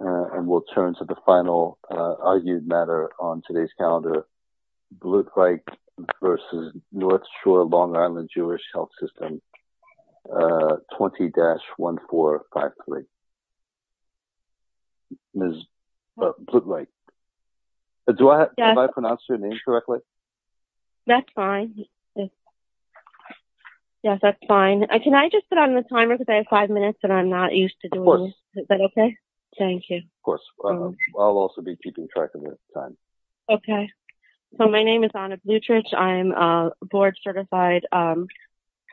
and we'll turn to the final argued matter on today's calendar, Blutreich v. North Shore Long Island Jewish Health System 20-1453. Ms. Blutreich. Did I pronounce your name correctly? That's fine. Yes, that's fine. Can I just put on the timer because I have five minutes and I'm not Thank you. Of course. I'll also be keeping track of your time. Okay. So my name is Anna Blutreich. I'm a board certified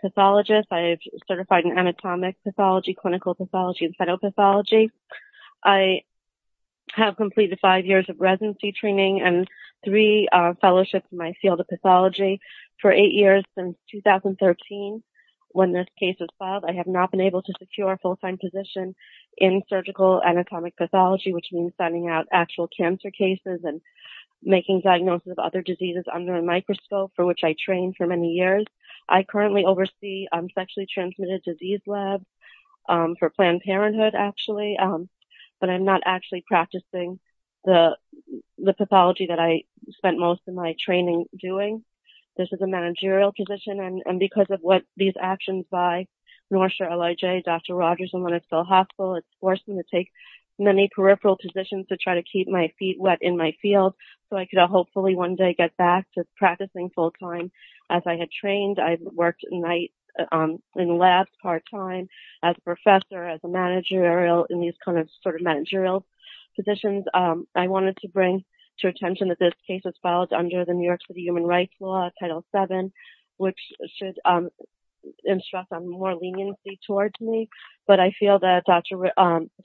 pathologist. I've certified in anatomic pathology, clinical pathology, and phytopathology. I have completed five years of residency training and three fellowships in my field of pathology. For eight years since 2013, when this case was filed, I have not been able to secure a full-time position in surgical anatomic pathology, which means finding out actual cancer cases and making diagnosis of other diseases under a microscope, for which I trained for many years. I currently oversee sexually transmitted disease labs for Planned Parenthood, actually, but I'm not actually practicing the pathology that I spent most of my training doing. This is a managerial position, and because of what these actions by North Shore LIJ, Dr. Rogers, and Winnesville Hospital, it's forced me to take many peripheral positions to try to keep my feet wet in my field so I could hopefully one day get back to practicing full-time. As I had trained, I worked at night in labs part-time as a professor, as a managerial, in these kind of sort of managerial positions. I wanted to bring to attention that this case was filed under the New York City Human Rights Law, Title VII, which should instruct some more leniency towards me, but I feel that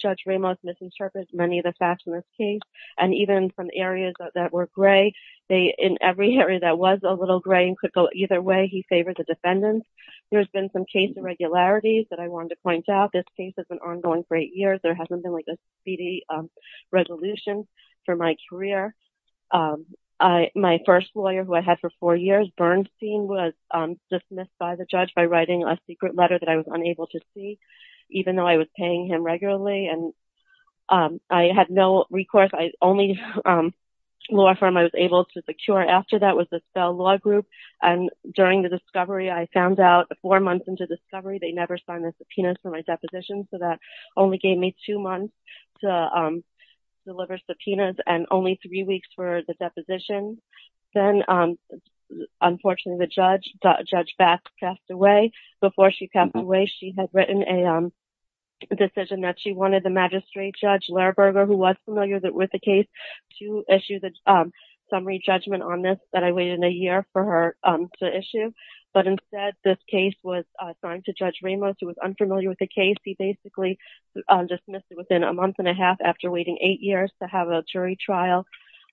Judge Ramos misinterpreted many of the facts in this case, and even from areas that were gray, in every area that was a little gray and could go either way, he favored the defendants. There's been some case irregularities that I wanted to point out. This case has been ongoing for eight years. There hasn't been like a speedy resolution for my career. My first lawyer, who I had for four years, Bernstein, was dismissed by the judge by writing a secret letter that I was unable to see, even though I was paying him regularly, and I had no recourse. The only law firm I was able to secure after that was the Spell Law Group, and during the discovery, I found out four months into discovery, they never signed the subpoenas for my deposition, so that only gave me two months to deliver subpoenas and only three weeks for the deposition. Then, unfortunately, the judge, Judge Bass, passed away. Before she passed away, she had written a decision that she wanted the magistrate, Judge Laraberger, who was familiar with the case, to issue the summary judgment on this that I waited a year for her to issue, but instead, this case was signed to Judge Ramos, who was unfamiliar with the case. He basically dismissed it within a month and a half after waiting eight years to have a jury trial.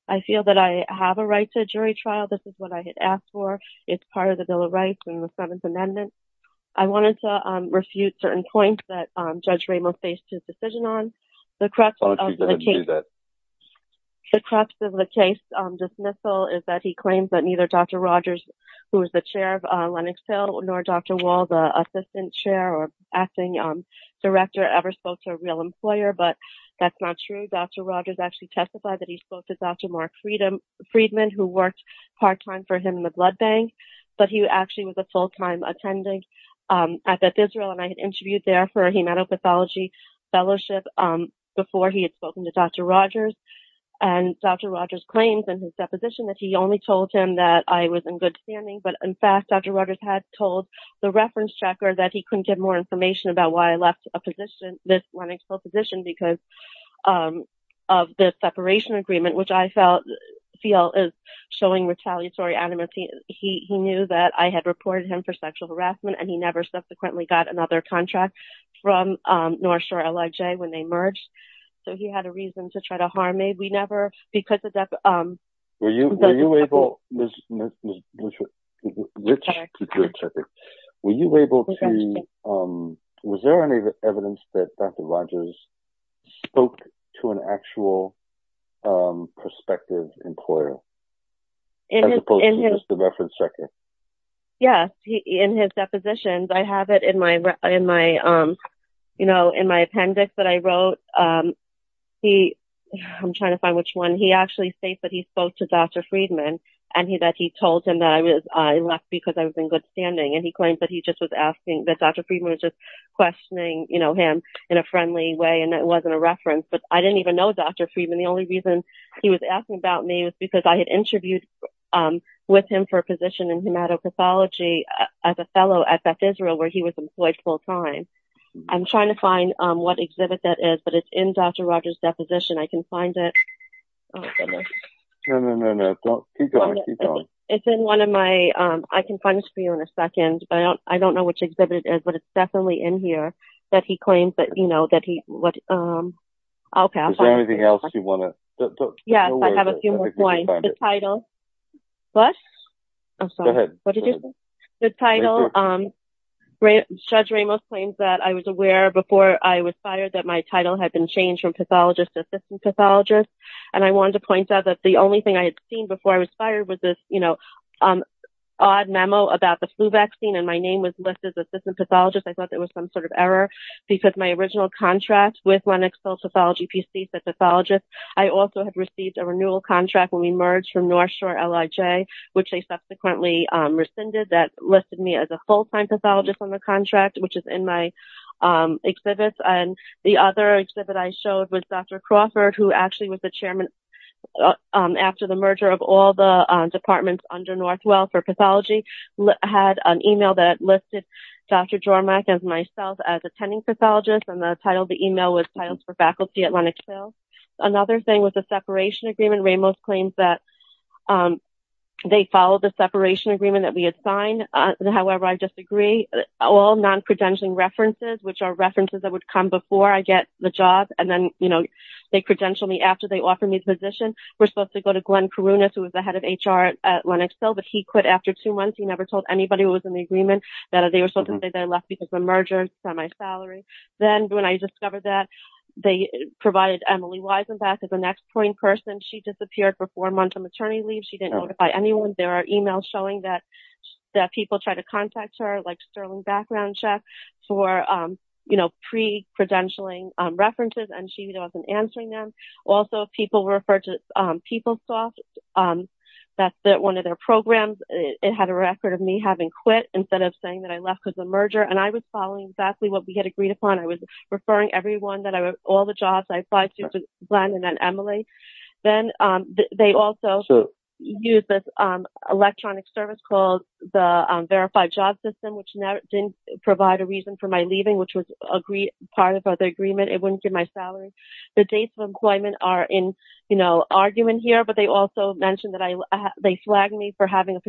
I feel that I have a right to a jury trial. This is what I had asked for. It's part of the Bill of Rights and the Seventh Amendment. I wanted to refute certain points that Judge Ramos faced his decision on. The crux of the case dismissal is that he claims that neither Dr. Rogers, who is the chair of Lennox Hill, nor Dr. Wall, the assistant chair or acting director, ever spoke to a real employer, but that's not true. Dr. Rogers actually testified that he spoke to Dr. Mark Friedman, who worked part-time for him in the blood bank, but he actually was a full-time attending at Beth Israel. I had interviewed there for a hematopathology fellowship before he had spoken to Dr. Rogers. Dr. Rogers claims in his deposition that he only told him that he was in good standing, but in fact, Dr. Rogers had told the reference checker that he couldn't give more information about why he left this Lennox Hill position because of the separation agreement, which I feel is showing retaliatory animosity. He knew that I had reported him for sexual harassment, and he never subsequently got another contract from North Shore LIJ when they merged, so he had a reason to try to harm me. Was there any evidence that Dr. Rogers spoke to an actual prospective employer, as opposed to just the reference checker? Yes, in his depositions. I have it in my appendix that I actually say that he spoke to Dr. Friedman and that he told him that I left because I was in good standing, and he claims that Dr. Friedman was just questioning him in a friendly way and that it wasn't a reference, but I didn't even know Dr. Friedman. The only reason he was asking about me was because I had interviewed with him for a position in hematopathology as a fellow at Beth Israel, where he was employed full-time. I'm trying to find what exhibit that is, but it's in Dr. Rogers' deposition. I can find it. I can find it for you in a second, but I don't know which exhibit it is, but it's definitely in here that he claims. Is there anything else you want to say? Yes, I have a few more points. The title. Judge Ramos claims that I was aware before I was fired that my title had been changed from pathologist to assistant pathologist, and I wanted to point out that the only thing I had seen before I was fired was this odd memo about the flu vaccine, and my name was listed as assistant pathologist error because my original contract with Lenox Health Pathology PC said pathologist. I also had received a renewal contract when we merged from North Shore LIJ, which they subsequently rescinded. That listed me as a full-time pathologist on the contract, which is in my exhibits. The other exhibit I showed was Dr. Crawford, who actually was the chairman after the merger of all the departments under Northwell for pathology, had an email that I submitted as attending pathologist, and the title of the email was titles for faculty at Lenox Hill. Another thing was the separation agreement. Ramos claims that they followed the separation agreement that we had signed. However, I disagree. All non-credentialing references, which are references that would come before I get the job, and then, you know, they credential me after they offer me the position. We're supposed to go to Glenn Karunas, who was the head of HR at Lenox Hill, but he quit after two months. He never told anybody who was in the agreement that they were supposed to stay there and left because of the merger and semi-salary. Then, when I discovered that, they provided Emily Wiesenbach as an exploiting person. She disappeared for four months on maternity leave. She didn't notify anyone. There are emails showing that people try to contact her, like Sterling Backgroundcheck, for, you know, pre-credentialing references, and she wasn't answering them. Also, people refer to PeopleSoft. That's one of their saying that I left because of the merger, and I was following exactly what we had agreed upon. I was referring everyone, all the jobs I applied to, to Glenn and then Emily. Then, they also used this electronic service called the Verified Job System, which didn't provide a reason for my leaving, which was part of the agreement. It wouldn't give my salary. The dates of employment are in, you know, argument here, but they also mentioned that they flagged me for having a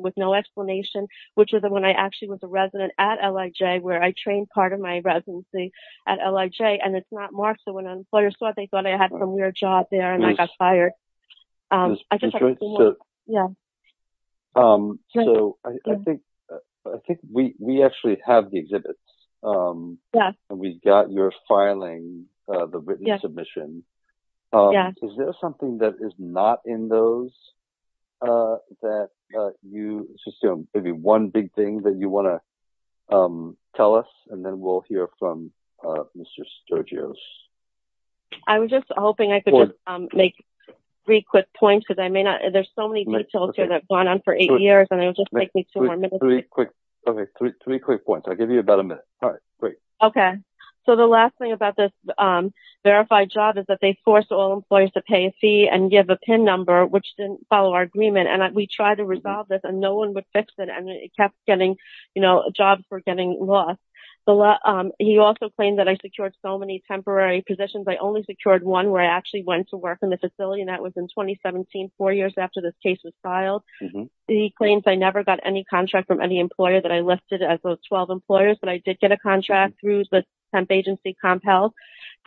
with no explanation, which is when I actually was a resident at LIJ, where I trained part of my residency at LIJ. It's not marked, so when an employer saw it, they thought I had some weird job there, and I got fired. I think we actually have the exhibits, and we got your filing, the written submission. Is there something that is not in those that you, maybe one big thing that you want to tell us, and then we'll hear from Mr. Sturgios. I was just hoping I could just make three quick points because I may not, there's so many details here that have gone on for eight years, and it'll just take me two more minutes. Okay, three quick points. I'll give you about a Okay, so the last thing about this verified job is that they forced all employers to pay a fee and give a PIN number, which didn't follow our agreement, and we tried to resolve this, and no one would fix it, and it kept getting, you know, jobs were getting lost. He also claimed that I secured so many temporary positions. I only secured one where I actually went to work in the facility, and that was in 2017, four years after this case was filed. He claims I never got any contract from any employer that I listed as those 12 employers, but I did get a contract through the temp agency, Comp Health,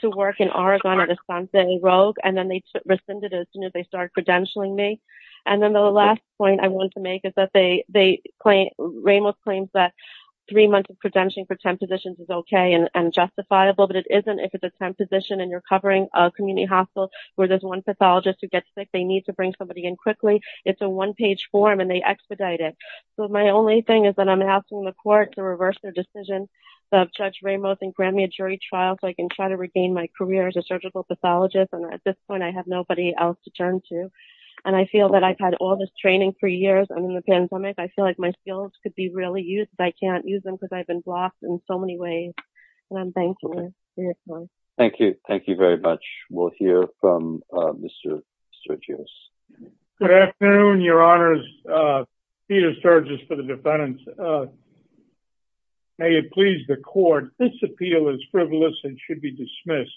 to work in Oregon at Asante Rogue, and then they rescinded it as soon as they started credentialing me, and then the last point I wanted to make is that Ramos claims that three months of credentialing for temp positions is okay and justifiable, but it isn't if it's a temp position, and you're covering a community hospital where there's one pathologist who gets sick. They need to bring somebody in quickly. It's a one-page form, and they expedite it, so my only thing is that I'm asking the court to reverse their decision of Judge Ramos and grant me a jury trial so I can try to regain my career as a surgical pathologist, and at this point, I have nobody else to turn to, and I feel that I've had all this training for years, and in the pandemic, I feel like my skills could be really used, but I can't use them because I've been blocked in so many ways, and I'm thankful. Thank you. Thank you very much. We'll hear from Mr. Sergios. Good afternoon, Your Honors. Peter Sergios for the defendants. May it please the court, this appeal is frivolous and should be dismissed.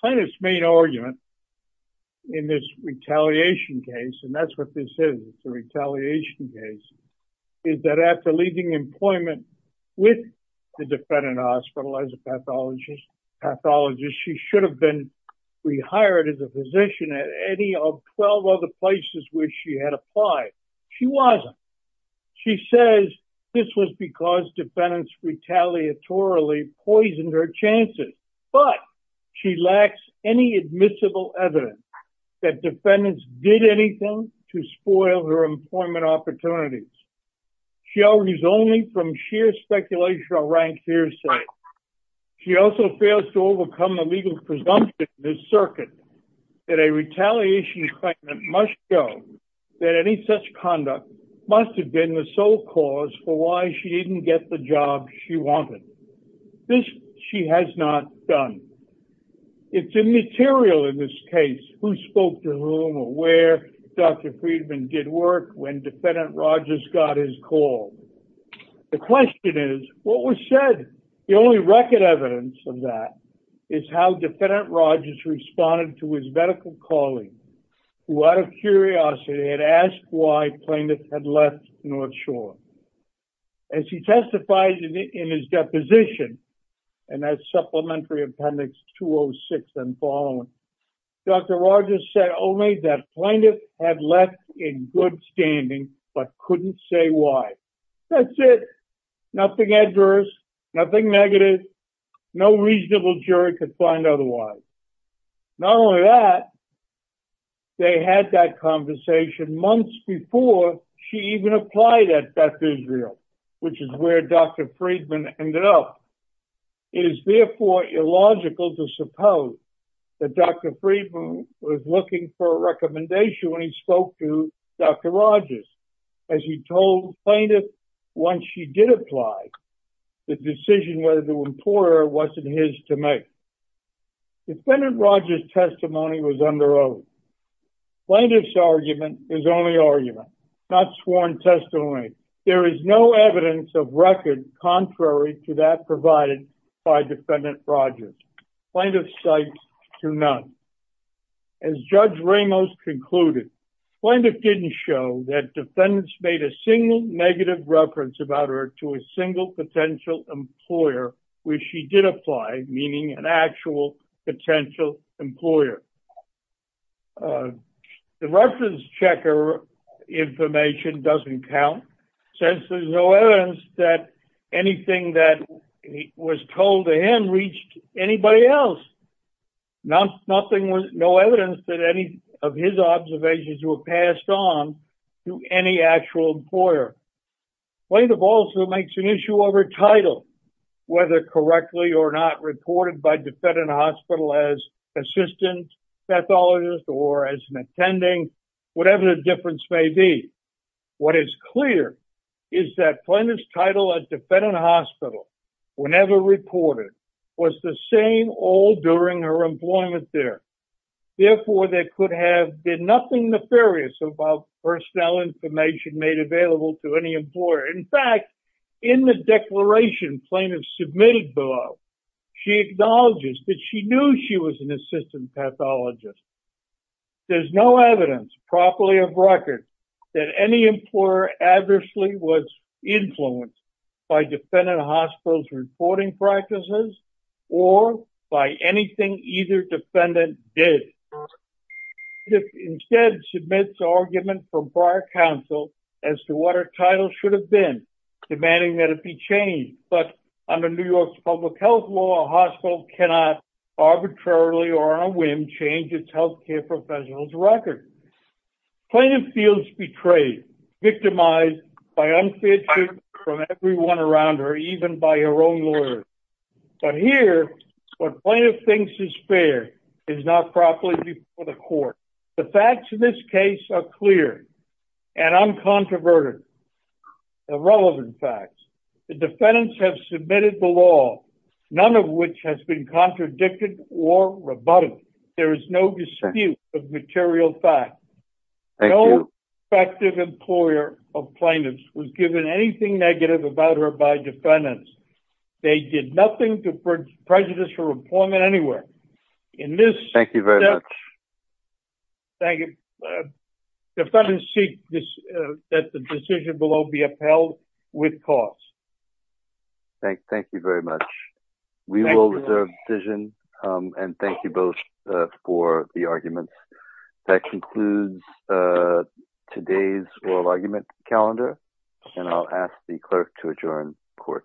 Plaintiff's main argument in this retaliation case, and that's what this is, it's a retaliation case, is that after leaving employment with the defendant hospital as a pathologist, she should have been rehired as a physician at any of 12 other places where she had applied. She wasn't. She says this was because defendants retaliatorily poisoned her chances, but she lacks any admissible evidence that defendants did anything to spoil her employment opportunities. She argues only from sheer speculation or rank hearsay. She also fails to overcome the legal presumption in this circuit that a retaliation claimant must show that any such conduct must have been the sole cause for why she didn't get the job she wanted. This she has not done. It's immaterial in this case who spoke to whom or where Dr. Friedman did work when Defendant Rogers got his call. The question is, what was said? The record evidence of that is how Defendant Rogers responded to his medical colleague who out of curiosity had asked why plaintiff had left North Shore. As he testified in his deposition, and that's Supplementary Appendix 206 and following, Dr. Rogers said only that plaintiff had left in good standing but couldn't say why. That's it. Nothing adverse, nothing negative, no reasonable jury could find otherwise. Not only that, they had that conversation months before she even applied at Beth Israel, which is where Dr. Friedman ended up. It is therefore illogical to suppose that Dr. Friedman was looking for a recommendation when he spoke to Dr. Rogers. As he told plaintiff once she did apply, the decision whether to employ her wasn't his to make. Defendant Rogers' testimony was under oath. Plaintiff's argument is only argument, not sworn testimony. There is no evidence of record contrary to that provided by Defendant Rogers. Plaintiff cites to none. As Judge Ramos concluded, plaintiff didn't show that defendants made a single negative reference about her to a single potential employer where she did apply, meaning an actual potential employer. The reference checker information doesn't count since there's no evidence that anything that was told to him reached anybody else. Nothing was, no evidence that any of his observations were passed on to any actual employer. Plaintiff also makes an issue over title, whether correctly or not reported by defendant hospital as assistant pathologist or as an attending, whatever the difference may be. What is clear is that plaintiff's title at defendant hospital, whenever reported, was the same all during her employment there. Therefore, there could have been nothing nefarious about personnel information made available to any employer. In fact, in the declaration plaintiff submitted below, she acknowledges that she knew she was an assistant pathologist. There's no evidence properly of record that any employer adversely was influenced by defendant hospital's reporting practices or by anything either defendant did. Plaintiff instead submits argument from prior counsel as to what her title should have been, demanding that it be changed. But under New York's public health law, a hospital cannot arbitrarily or on a whim change its healthcare professional's record. Plaintiff feels betrayed, victimized by unfair treatment from everyone around her, even by her own lawyer. But here, what plaintiff thinks is fair is not properly before the court. The facts in this case are clear and uncontroverted, irrelevant facts. The defendants have submitted the law, none of which has been contradicted or rebutted. There is no dispute of material fact. No effective employer of plaintiffs was given anything negative about her by defendants. They did nothing to prejudice her employment anywhere. In this- Thank you very much. Thank you. Defendants seek that the decision below be upheld with cause. Thank you very much. We will reserve the decision and thank you both for the arguments. That concludes today's oral argument calendar and I'll ask the clerk to adjourn court.